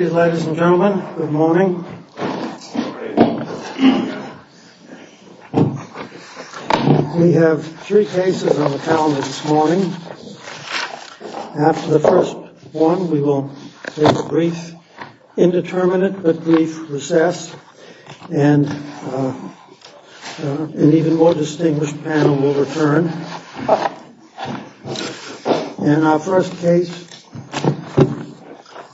Ladies and gentlemen, good morning. We have three cases on the calendar this morning. After the first one, we will take a brief indeterminate but brief recess, and an even more distinguished panel will return. And our first case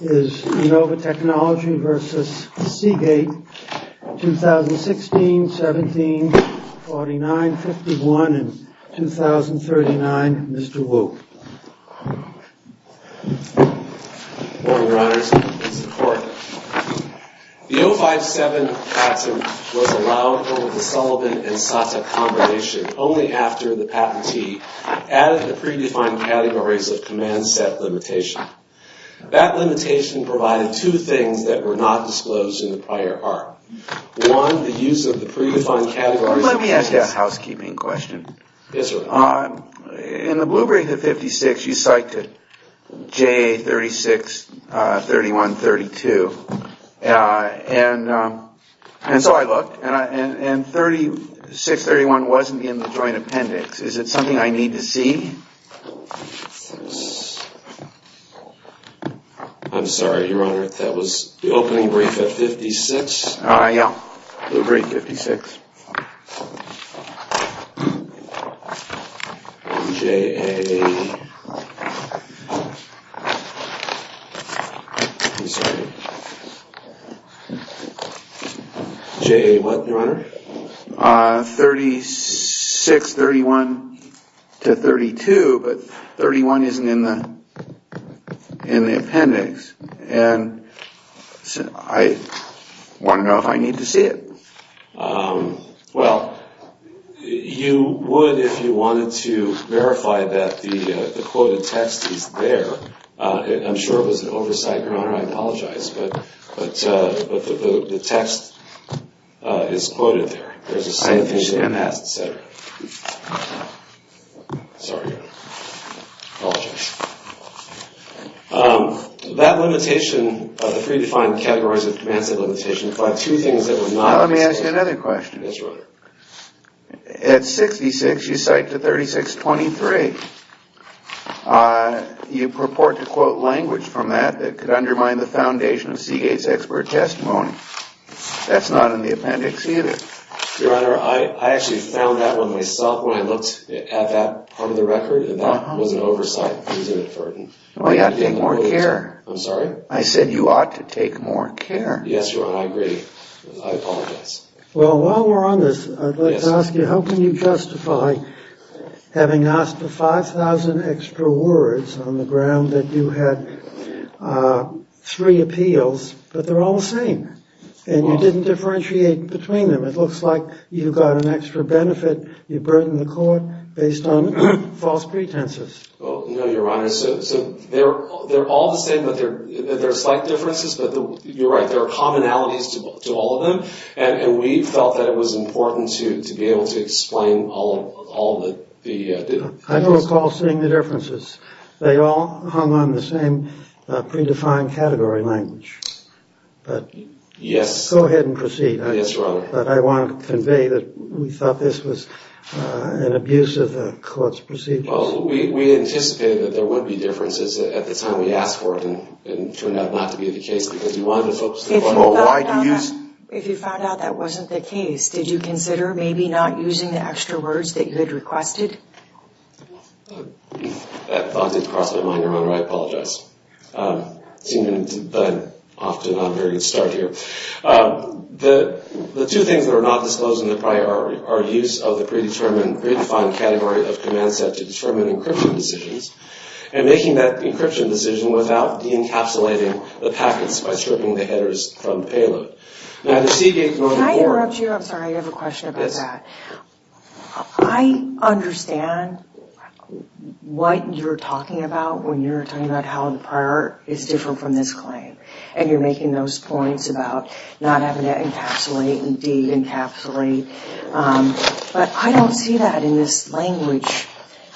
is Innova Technology v. Seagate, 2016, 17, 49, 51, and 2039. Mr. Wu. Good morning, Your Honors. It's the Court. Your Honor, the 057 patent was allowed over the Sullivan and Sata combination only after the patentee added the predefined categories of command set limitation. That limitation provided two things that were not disclosed in the prior part. One, the use of the predefined categories... Let me ask you a housekeeping question. Yes, Your Honor. In the blue brief at 56, you cited JA 3631-32. And so I looked, and 3631 wasn't in the joint appendix. Is it something I need to see? I'm sorry, Your Honor. That was the opening brief at 56? Blue brief 56. JA... I'm sorry. JA what, Your Honor? 3631-32, but 31 isn't in the appendix. And I want to know if I need to see it. Well, you would if you wanted to verify that the quoted text is there. I'm sure it was an oversight, Your Honor. I apologize. But the text is quoted there. There's a signification in that, et cetera. Sorry, Your Honor. I apologize. That limitation, the predefined categories of demand-set limitation, implied two things that were not... Let me ask you another question. Yes, Your Honor. At 66, you cite to 3623. You purport to quote language from that that could undermine the foundation of Seagate's expert testimony. That's not in the appendix either. Your Honor, I actually found that one myself when I looked at that part of the record, and that was an oversight. Well, you ought to take more care. I'm sorry? I said you ought to take more care. Yes, Your Honor. I agree. I apologize. Well, while we're on this, I'd like to ask you how can you justify having asked for 5,000 extra words on the ground that you had three appeals, but they're all the same, and you didn't differentiate between them? It looks like you got an extra benefit. You burden the court based on false pretenses. No, Your Honor. They're all the same, but there are slight differences. You're right. There are commonalities to all of them, and we felt that it was important to be able to explain all the... I don't recall seeing the differences. They all hung on the same predefined category language. Yes. Go ahead and proceed. Yes, Your Honor. But I want to convey that we thought this was an abuse of the court's procedures. Well, we anticipated that there would be differences at the time we asked for it, and it turned out not to be the case because we wanted the folks to know why do you use... If you found out that wasn't the case, did you consider maybe not using the extra words that you had requested? That thought didn't cross my mind, Your Honor. I apologize. It seems that I'm off to a not very good start here. The two things that are not disclosed in the prior are use of the predefined category of command set to determine encryption decisions, and making that encryption decision without de-encapsulating the packets by stripping the headers from payload. Now, the Seagate... Can I interrupt you? I'm sorry, I have a question about that. Yes. I understand what you're talking about when you're talking about how the prior is different from this claim, and you're making those points about not having to encapsulate and de-encapsulate, but I don't see that in this language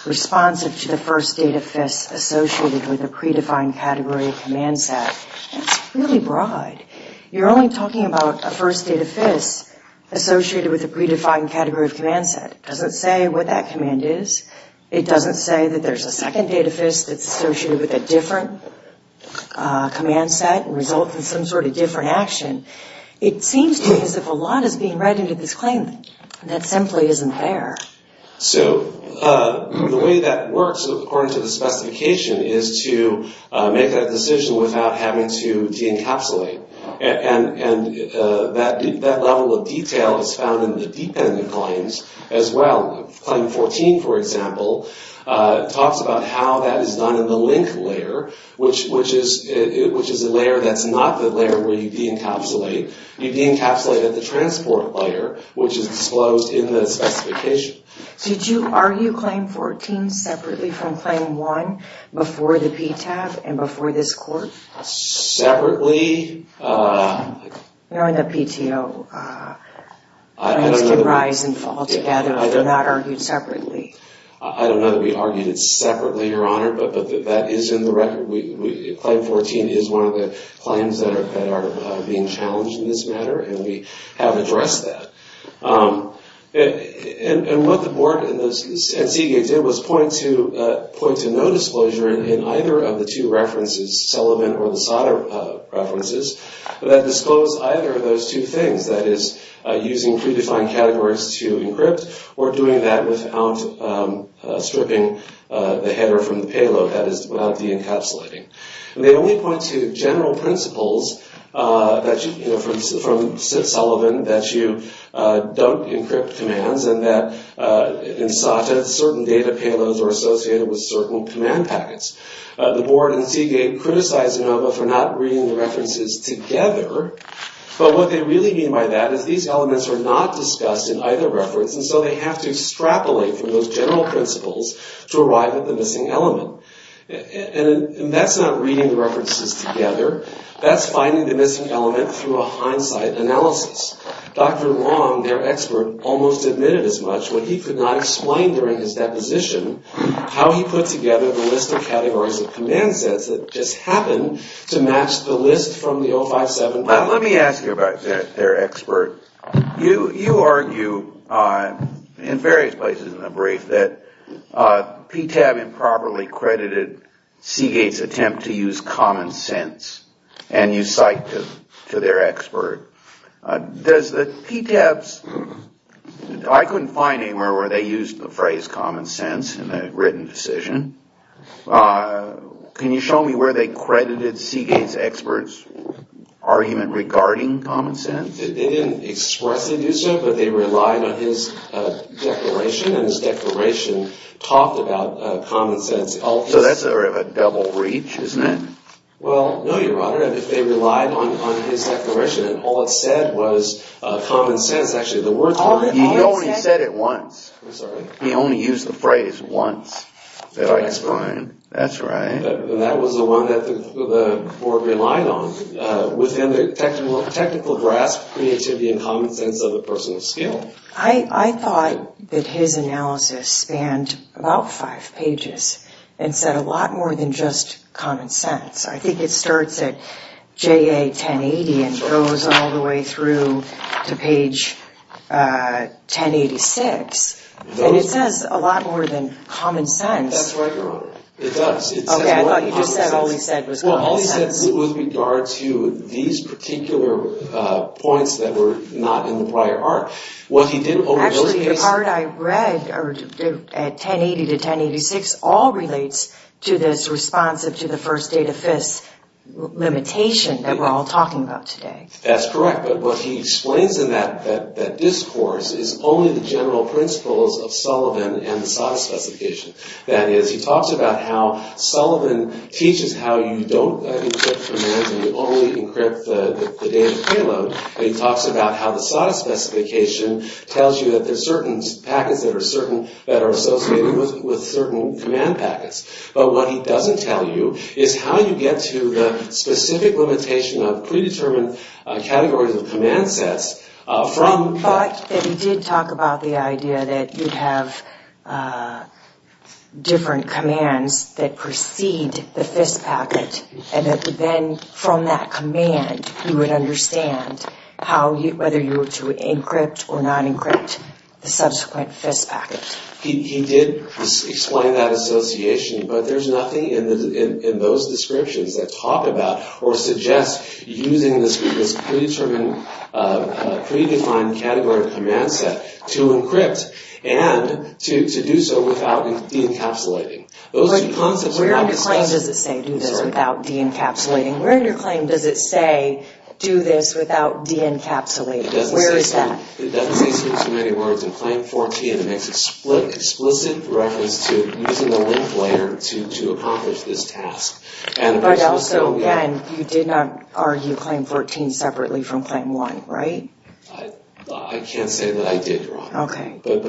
responsive to the first date of FIS associated with a predefined category of command set. That's really broad. You're only talking about a first date of FIS associated with a predefined category of command set. It doesn't say what that command is. It doesn't say that there's a second date of FIS that's associated with a different command set and results in some sort of different action. It seems to me as if a lot is being read into this claim that simply isn't there. So the way that works, according to the specification, is to make that decision without having to de-encapsulate, and that level of detail is found in the dependent claims as well. Claim 14, for example, talks about how that is done in the link layer, which is a layer that's not the layer where you de-encapsulate. You de-encapsulate at the transport layer, which is disclosed in the specification. Did you argue Claim 14 separately from Claim 1 before the PTAB and before this court? Separately? Knowing that PTO claims can rise and fall together if they're not argued separately. I don't know that we argued it separately, Your Honor, but that is in the record. Claim 14 is one of the claims that are being challenged in this matter, and we have addressed that. And what the board and CDA did was point to no disclosure in either of the two references, Sullivan or Lozada references, that disclosed either of those two things, that is using predefined categories to encrypt or doing that without stripping the header from the payload, that is without de-encapsulating. And they only point to general principles from Sullivan that you don't encrypt commands and that in SATA certain data payloads are associated with certain command packets. The board and CDA criticize Inova for not reading the references together, but what they really mean by that is these elements are not discussed in either reference, and so they have to extrapolate from those general principles to arrive at the missing element. And that's not reading the references together. That's finding the missing element through a hindsight analysis. Dr. Long, their expert, almost admitted as much when he could not explain during his deposition how he put together the list of categories of command sets that just happened to match the list from the 057. So let me ask you about their expert. You argue in various places in the brief that PTAB improperly credited Seagate's attempt to use common sense and you cite to their expert. Does the PTAB's, I couldn't find anywhere where they used the phrase common sense in the written decision. Can you show me where they credited Seagate's expert's argument regarding common sense? They didn't expressly do so, but they relied on his declaration and his declaration talked about common sense. So that's a bit of a double reach, isn't it? Well, no, Your Honor. If they relied on his declaration and all it said was common sense. He only said it once. He only used the phrase once that I explained. That's right. I thought that his analysis spanned about five pages and said a lot more than just common sense. I think it starts at JA 1080 and goes all the way through to page 1086. And it says a lot more than common sense. That's right, Your Honor. It does. Okay, I thought you just said all he said was common sense. Well, all he said was with regard to these particular points that were not in the prior art. Actually, the part I read at 1080 to 1086 all relates to this responsive to the first data FIS limitation that we're all talking about today. That's correct. But what he explains in that discourse is only the general principles of Sullivan and the SOTA specification. That is, he talks about how Sullivan teaches how you don't encrypt commands and you only encrypt the data payload. He talks about how the SOTA specification tells you that there are certain packets that are associated with certain command packets. But what he doesn't tell you is how you get to the specific limitation of predetermined categories of command sets from… whether you were to encrypt or not encrypt the subsequent FIS packet. He did explain that association, but there's nothing in those descriptions that talk about or suggest using this predetermined category of command set to encrypt and to do so without de-encapsulating. Where in your claim does it say do this without de-encapsulating? It doesn't say so. It doesn't say so in so many words. In Claim 14, it makes explicit reference to using the link layer to accomplish this task. But also, again, you did not argue Claim 14 separately from Claim 1, right? I can't say that I did, Robyn. Okay. But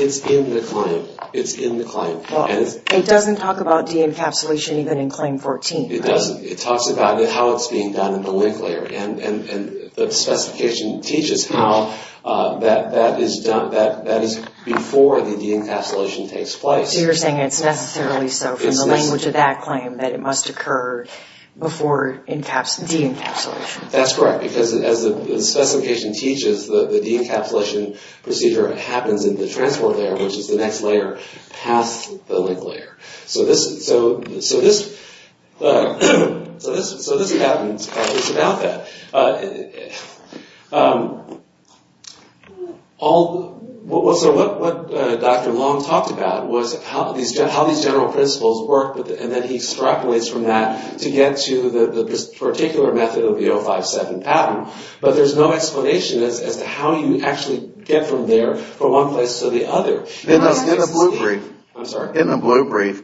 it's in the claim. It's in the claim. It doesn't talk about de-encapsulation even in Claim 14, right? It doesn't. It doesn't. It talks about how it's being done in the link layer. And the specification teaches how that is before the de-encapsulation takes place. So you're saying it's necessarily so from the language of that claim that it must occur before de-encapsulation. That's correct. Because as the specification teaches, the de-encapsulation procedure happens in the transport layer, which is the next layer past the link layer. So this pattern is about that. So what Dr. Long talked about was how these general principles work, and then he extrapolates from that to get to the particular method of the 057 pattern. But there's no explanation as to how you actually get from there from one place to the other. In the blue brief,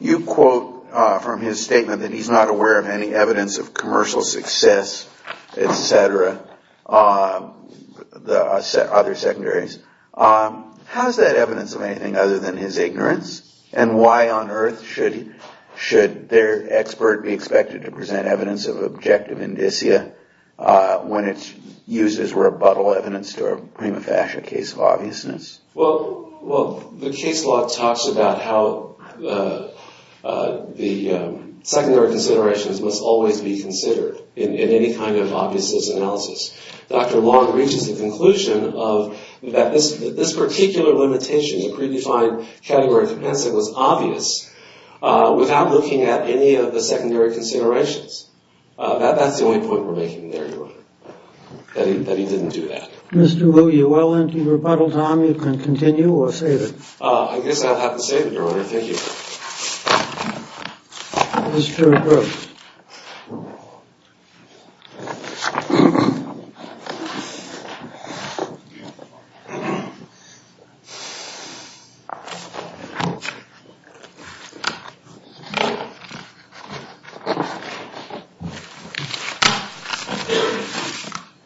you quote from his statement that he's not aware of any evidence of commercial success, et cetera, other secondaries. How is that evidence of anything other than his ignorance? And why on earth should their expert be expected to present evidence of objective indicia when it's used as rebuttal evidence to a prima facie case of obviousness? Well, the case law talks about how the secondary considerations must always be considered in any kind of obviousness analysis. Dr. Long reaches the conclusion that this particular limitation, the predefined category of compensate, was obvious without looking at any of the secondary considerations. That's the only point we're making there, Your Honor, that he didn't do that. Mr. Wu, you're well into your rebuttal time. You can continue or save it. I guess I'll have to save it, Your Honor. Thank you. Mr. Brooks.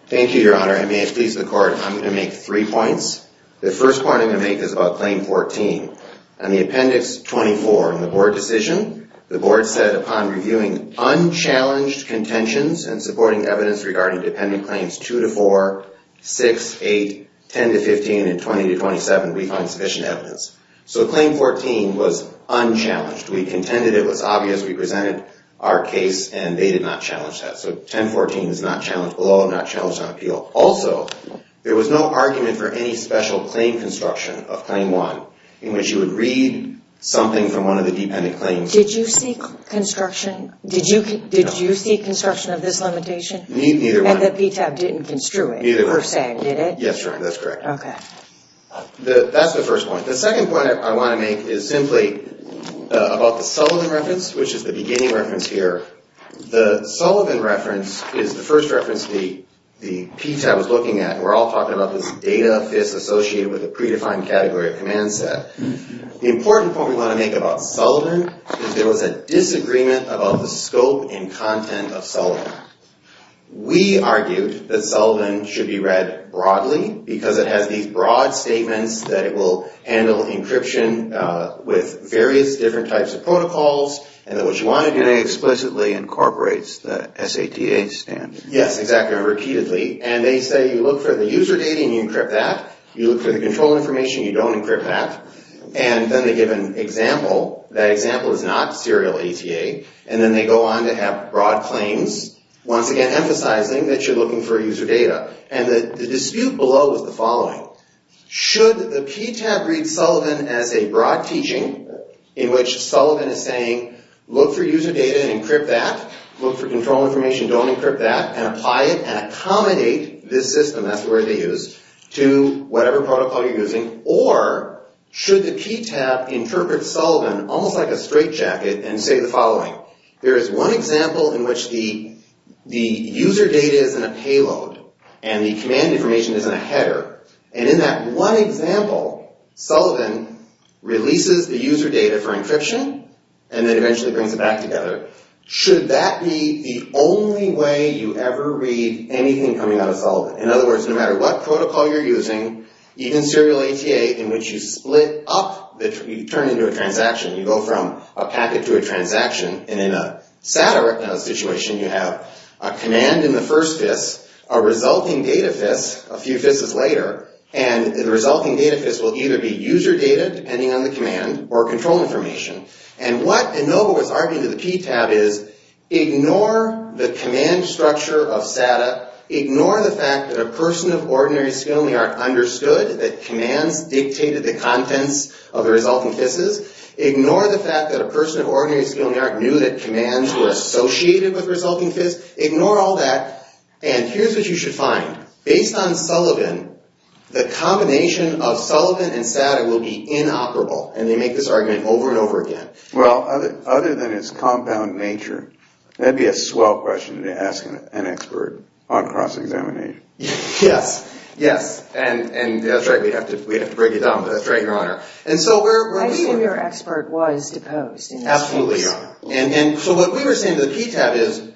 Thank you, Your Honor. I'm going to make three points. The first point I'm going to make is about Claim 14. On the appendix 24 in the board decision, the board said upon reviewing unchallenged contentions and supporting evidence regarding dependent claims 2 to 4, 6, 8, 10 to 15, and 20 to 27, we find sufficient evidence. So Claim 14 was unchallenged. We contended it was obvious. We presented our case, and they did not challenge that. So 1014 is not challenged below, not challenged on appeal. Also, there was no argument for any special claim construction of Claim 1 in which you would read something from one of the dependent claims. Did you seek construction? No. Did you seek construction of this limitation? Neither one. And the PTAB didn't construe it, you're saying, did it? Yes, Your Honor, that's correct. Okay. That's the first point. The second point I want to make is simply about the Sullivan reference, which is the beginning reference here. The Sullivan reference is the first reference the PTAB was looking at, and we're all talking about this data FIS associated with a predefined category of command set. The important point we want to make about Sullivan is there was a disagreement about the scope and content of Sullivan. We argued that Sullivan should be read broadly because it has these broad statements that it will handle encryption with various different types of protocols, and that what you want to do explicitly incorporates the SATA standard. Yes, exactly. Repeatedly. And they say you look for the user data and you encrypt that. You look for the control information, you don't encrypt that. And then they give an example. That example is not serial ETA. And then they go on to have broad claims, once again emphasizing that you're looking for user data. And the dispute below is the following. Should the PTAB read Sullivan as a broad teaching in which Sullivan is saying, look for user data and encrypt that. Look for control information, don't encrypt that, and apply it and accommodate this system, that's the word they use, to whatever protocol you're using. Or, should the PTAB interpret Sullivan almost like a straitjacket and say the following. There is one example in which the user data is in a payload and the command information is in a header. And in that one example, Sullivan releases the user data for encryption and then eventually brings it back together. Should that be the only way you ever read anything coming out of Sullivan? In other words, no matter what protocol you're using, even serial ETA, in which you split up, you turn it into a transaction. You go from a packet to a transaction. And in a SATA situation, you have a command in the first FIS, a resulting data FIS, a few FISs later. And the resulting data FIS will either be user data, depending on the command, or control information. And what Enova was arguing to the PTAB is, ignore the command structure of SATA. Ignore the fact that a person of ordinary skill in the art understood that commands dictated the contents of the resulting FISs. Ignore the fact that a person of ordinary skill in the art knew that commands were associated with resulting FISs. Ignore all that. And here's what you should find. Based on Sullivan, the combination of Sullivan and SATA will be inoperable. And they make this argument over and over again. Well, other than its compound nature, that'd be a swell question to ask an expert on cross-examination. Yes, yes. And that's right. We'd have to break it down, but that's right, Your Honor. And so we're... Absolutely, Your Honor. And so what we were saying to the PTAB is,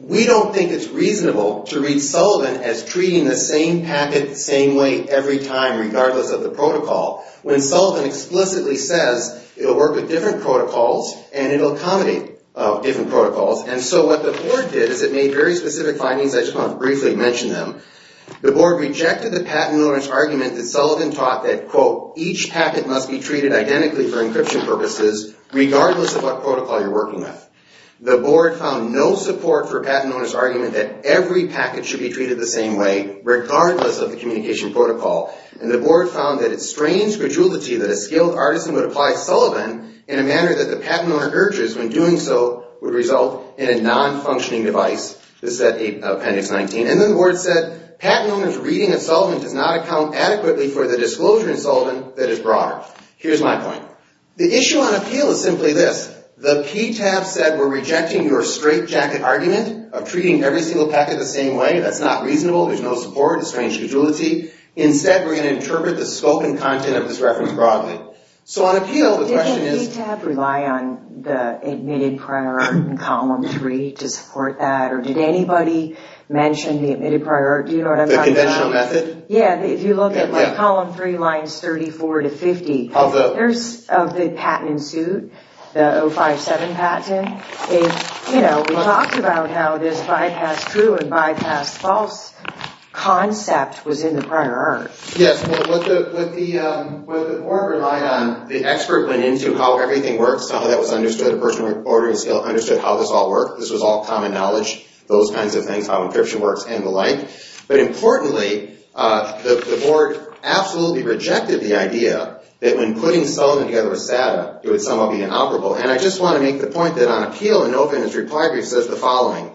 we don't think it's reasonable to read Sullivan as treating the same packet the same way every time, regardless of the protocol, when Sullivan explicitly says it'll work with different protocols and it'll accommodate different protocols. And so what the board did is it made very specific findings. I just want to briefly mention them. The board rejected the patent owner's argument that Sullivan taught that, quote, each packet must be treated identically for encryption purposes, regardless of what protocol you're working with. The board found no support for a patent owner's argument that every packet should be treated the same way, regardless of the communication protocol. And the board found that it's strange grudgility that a skilled artisan would apply Sullivan in a manner that the patent owner urges, when doing so would result in a non-functioning device. This is at Appendix 19. And then the board said, patent owner's reading of Sullivan does not account adequately for the disclosure in Sullivan that is broader. Here's my point. The issue on appeal is simply this. The PTAB said we're rejecting your straitjacket argument of treating every single packet the same way. That's not reasonable. There's no support. It's strange grudgility. Instead, we're going to interpret the scope and content of this reference broadly. So on appeal, the question is... Did the PTAB rely on the admitted prior art in Column 3 to support that? Or did anybody mention the admitted prior art? The conventional method? Yeah. If you look at Column 3, lines 34 to 50, of the patent in suit, the 057 patent, we talked about how this bypass true and bypass false concept was in the prior art. Yes. What the board relied on, the expert went into how everything works. How that was understood. A person with ordering skill understood how this all worked. This was all common knowledge. Those kinds of things, how encryption works and the like. But importantly, the board absolutely rejected the idea that when putting Sullivan together with SATA, it would somewhat be inoperable. And I just want to make the point that on appeal, the NOFA industry prior brief says the following.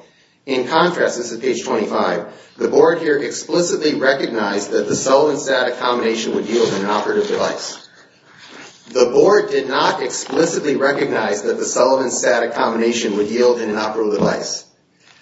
In contrast, this is page 25. The board here explicitly recognized that the Sullivan-SATA combination would yield an inoperative device. The board did not explicitly recognize that the Sullivan-SATA combination would yield an inoperable device.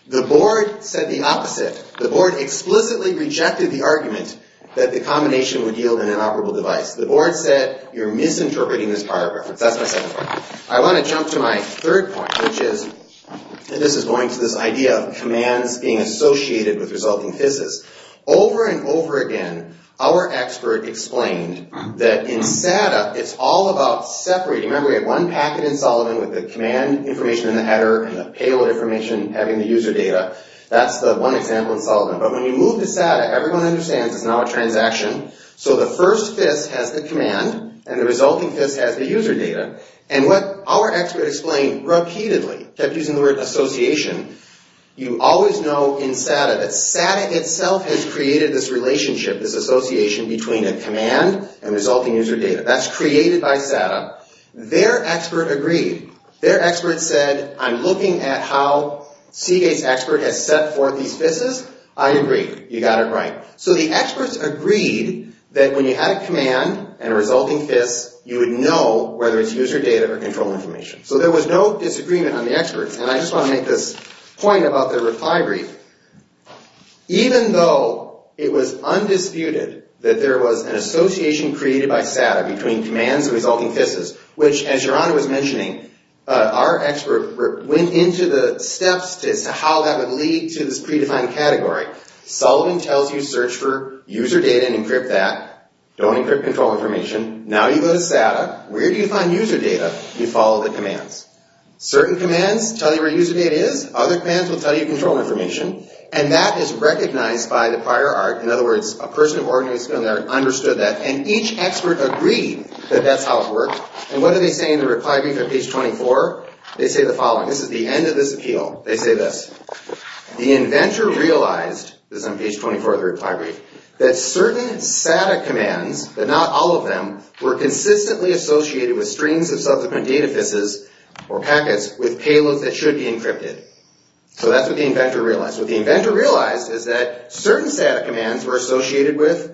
The board said the opposite. The board explicitly rejected the argument that the combination would yield an inoperable device. The board said, you're misinterpreting this paragraph. That's my second point. I want to jump to my third point, which is, and this is going to this idea of commands being associated with resulting FISs. Over and over again, our expert explained that in SATA, it's all about separating. Remember, we had one packet in Sullivan with the command information in the header and the payload information having the user data. That's the one example in Sullivan. But when you move to SATA, everyone understands it's now a transaction. So the first FIS has the command and the resulting FIS has the user data. And what our expert explained repeatedly, kept using the word association, you always know in SATA that SATA itself has created this relationship, this association between a command and resulting user data. That's created by SATA. Their expert agreed. Their expert said, I'm looking at how Seagate's expert has set forth these FISs. I agree. You got it right. So the experts agreed that when you had a command and a resulting FIS, you would know whether it's user data or control information. So there was no disagreement on the experts. And I just want to make this point about their reply brief. Even though it was undisputed that there was an association created by SATA between commands and resulting FISs, which, as Your Honor was mentioning, our expert went into the steps as to how that would lead to this predefined category. Sullivan tells you search for user data and encrypt that. Don't encrypt control information. Now you go to SATA. Where do you find user data? You follow the commands. Certain commands tell you where user data is. Other commands will tell you control information. And that is recognized by the prior art. In other words, a person of ordinary skill and art understood that. And each expert agreed that that's how it worked. And what do they say in the reply brief at page 24? They say the following. This is the end of this appeal. They say this. The inventor realized, this is on page 24 of the reply brief, that certain SATA commands, but not all of them, were consistently associated with streams of subsequent data FISs or packets with payloads that should be encrypted. So that's what the inventor realized. What the inventor realized is that certain SATA commands were associated with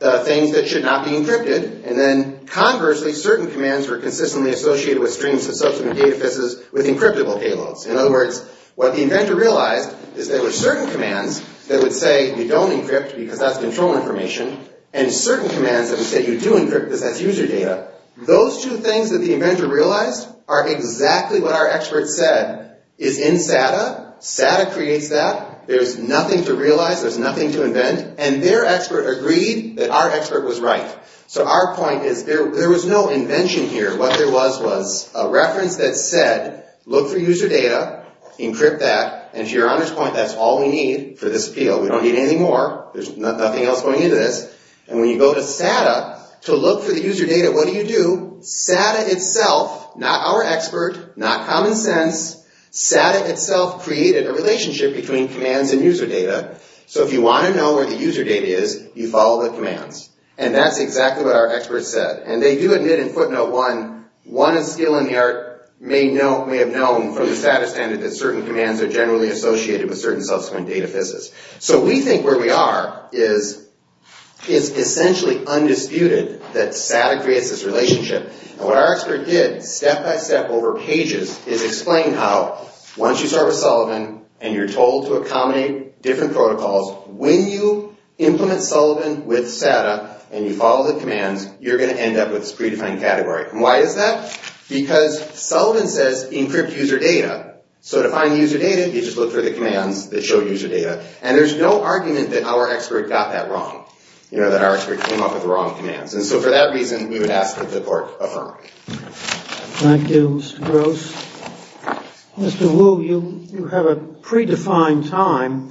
things that should not be encrypted. And then conversely, certain commands were consistently associated with streams of subsequent data FISs with encryptable payloads. In other words, what the inventor realized is there were certain commands that would say you don't encrypt because that's control information, and certain commands that would say you do encrypt because that's user data. Those two things that the inventor realized are exactly what our expert said is in SATA. SATA creates that. There's nothing to realize. There's nothing to invent. And their expert agreed that our expert was right. So our point is there was no invention here. What there was was a reference that said, look for user data, encrypt that. And to your honest point, that's all we need for this appeal. We don't need anything more. There's nothing else going into this. And when you go to SATA to look for the user data, what do you do? SATA itself, not our expert, not common sense, SATA itself created a relationship between commands and user data. So if you want to know where the user data is, you follow the commands. And that's exactly what our expert said. And they do admit in footnote one, one in skill and the art may have known from the SATA standard that certain commands are generally associated with certain subsequent data fizzes. So we think where we are is essentially undisputed that SATA creates this relationship. And what our expert did step by step over pages is explain how once you start with Sullivan and you're told to accommodate different protocols, when you implement Sullivan with SATA and you follow the commands, you're going to end up with this predefined category. And why is that? Because Sullivan says encrypt user data. So to find user data, you just look for the commands that show user data. And there's no argument that our expert got that wrong, that our expert came up with the wrong commands. And so for that reason, we would ask that the court affirm. Thank you, Mr. Gross. Mr. Wu, you have a predefined time.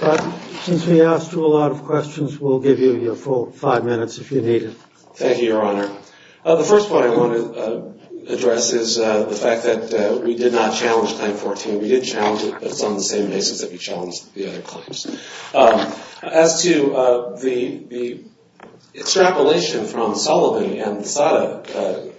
But since we asked you a lot of questions, we'll give you your full five minutes if you need it. Thank you, Your Honor. The first point I want to address is the fact that we did not challenge Claim 14. We did challenge it, but it's on the same basis that we challenged the other claims. As to the extrapolation from Sullivan and SATA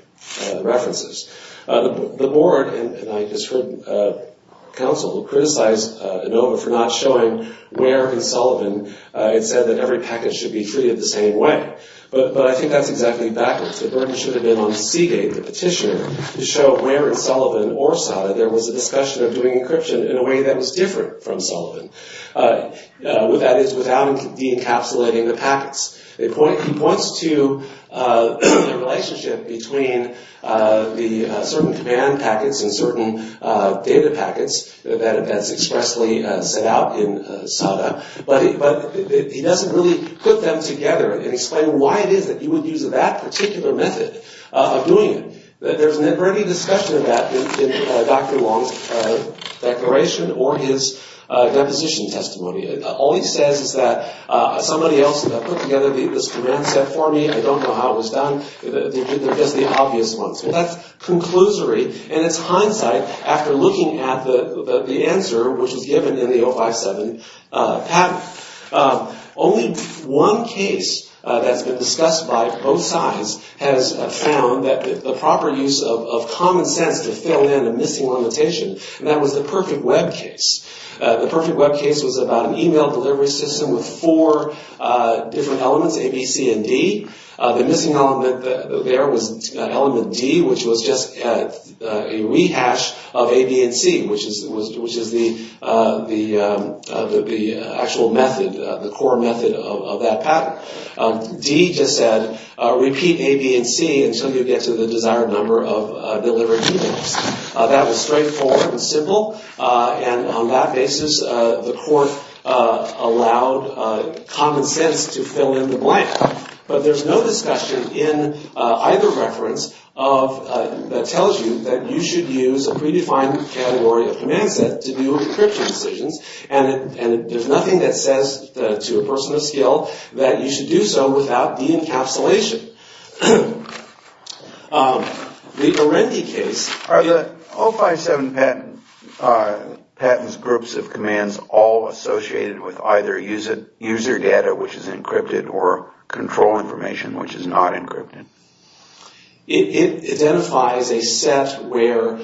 references, the board, and I just heard counsel criticize Inova for not showing where in Sullivan it said that every package should be treated the same way. But I think that's exactly backwards. The burden should have been on Seagate, the petitioner, to show where in Sullivan or SATA there was a discussion of doing encryption in a way that was different from Sullivan. That is, without de-encapsulating the packets. He points to the relationship between the certain command packets and certain data packets that's expressly set out in SATA. But he doesn't really put them together and explain why it is that you would use that particular method of doing it. There's never any discussion of that in Dr. Long's declaration or his deposition testimony. All he says is that somebody else put together this command set for me. I don't know how it was done. They're just the obvious ones. That's conclusory in its hindsight after looking at the answer which was given in the 057 patent. Only one case that's been discussed by both sides has found that the proper use of common sense to fill in a missing limitation. And that was the Perfect Web case. The Perfect Web case was about an email delivery system with four different elements, A, B, C, and D. The missing element there was element D, which was just a rehash of A, B, and C, which is the actual method, the core method of that pattern. D just said, repeat A, B, and C until you get to the desired number of delivered emails. That was straightforward and simple. And on that basis, the court allowed common sense to fill in the blank. But there's no discussion in either reference that tells you that you should use a predefined category of command set to do encryption decisions. And there's nothing that says to a person of skill that you should do so without de-encapsulation. The Arendi case. Are the 057 patents groups of commands all associated with either user data, which is encrypted, or control information, which is not encrypted? It identifies a set where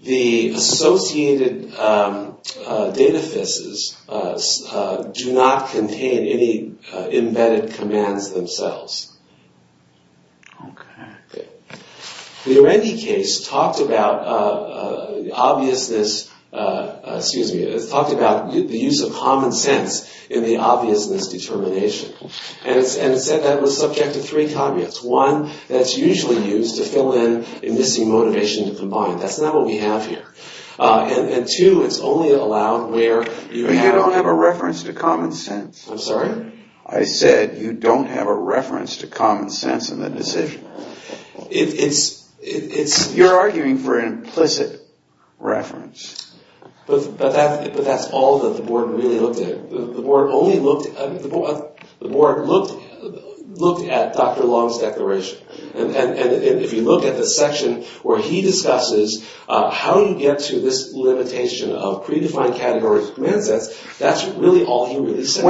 the associated data fizzes do not contain any embedded commands themselves. The Arendi case talked about the use of common sense in the obviousness determination. And it said that was subject to three caveats. One, that it's usually used to fill in a missing motivation to combine. That's not what we have here. And two, it's only allowed where you have a reference to common sense. I'm sorry? I said you don't have a reference to common sense in the decision. You're arguing for an implicit reference. But that's all that the board really looked at. The board looked at Dr. Long's declaration. And if you look at the section where he discusses how you get to this limitation of predefined categories of command sets, that's really all he said.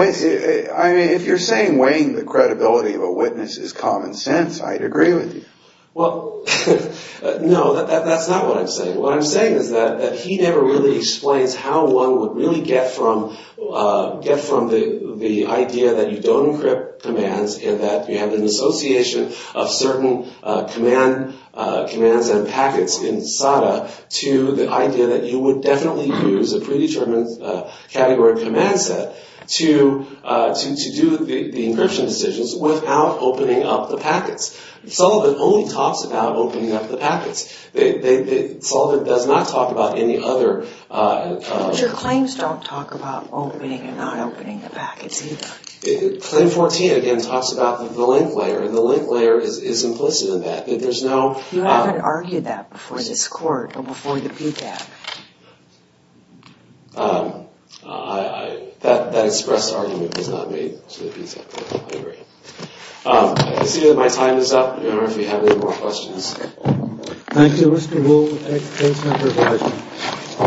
I mean, if you're saying weighing the credibility of a witness is common sense, I'd agree with you. Well, no, that's not what I'm saying. What I'm saying is that he never really explains how one would really get from the idea that you don't encrypt commands and that you have an association of certain commands and packets in SADA to the idea that you would definitely use a predetermined category of command set to do the encryption decisions without opening up the packets. Sullivan only talks about opening up the packets. Sullivan does not talk about any other... But your claims don't talk about opening and not opening the packets either. Claim 14, again, talks about the link layer. And the link layer is implicit in that. There's no... You haven't argued that before this court or before the PCAP. That expressed argument was not made to the PCAP. I agree. I see that my time is up. I don't know if you have any more questions. Thank you, Mr. Wolfe. Thanks for your time.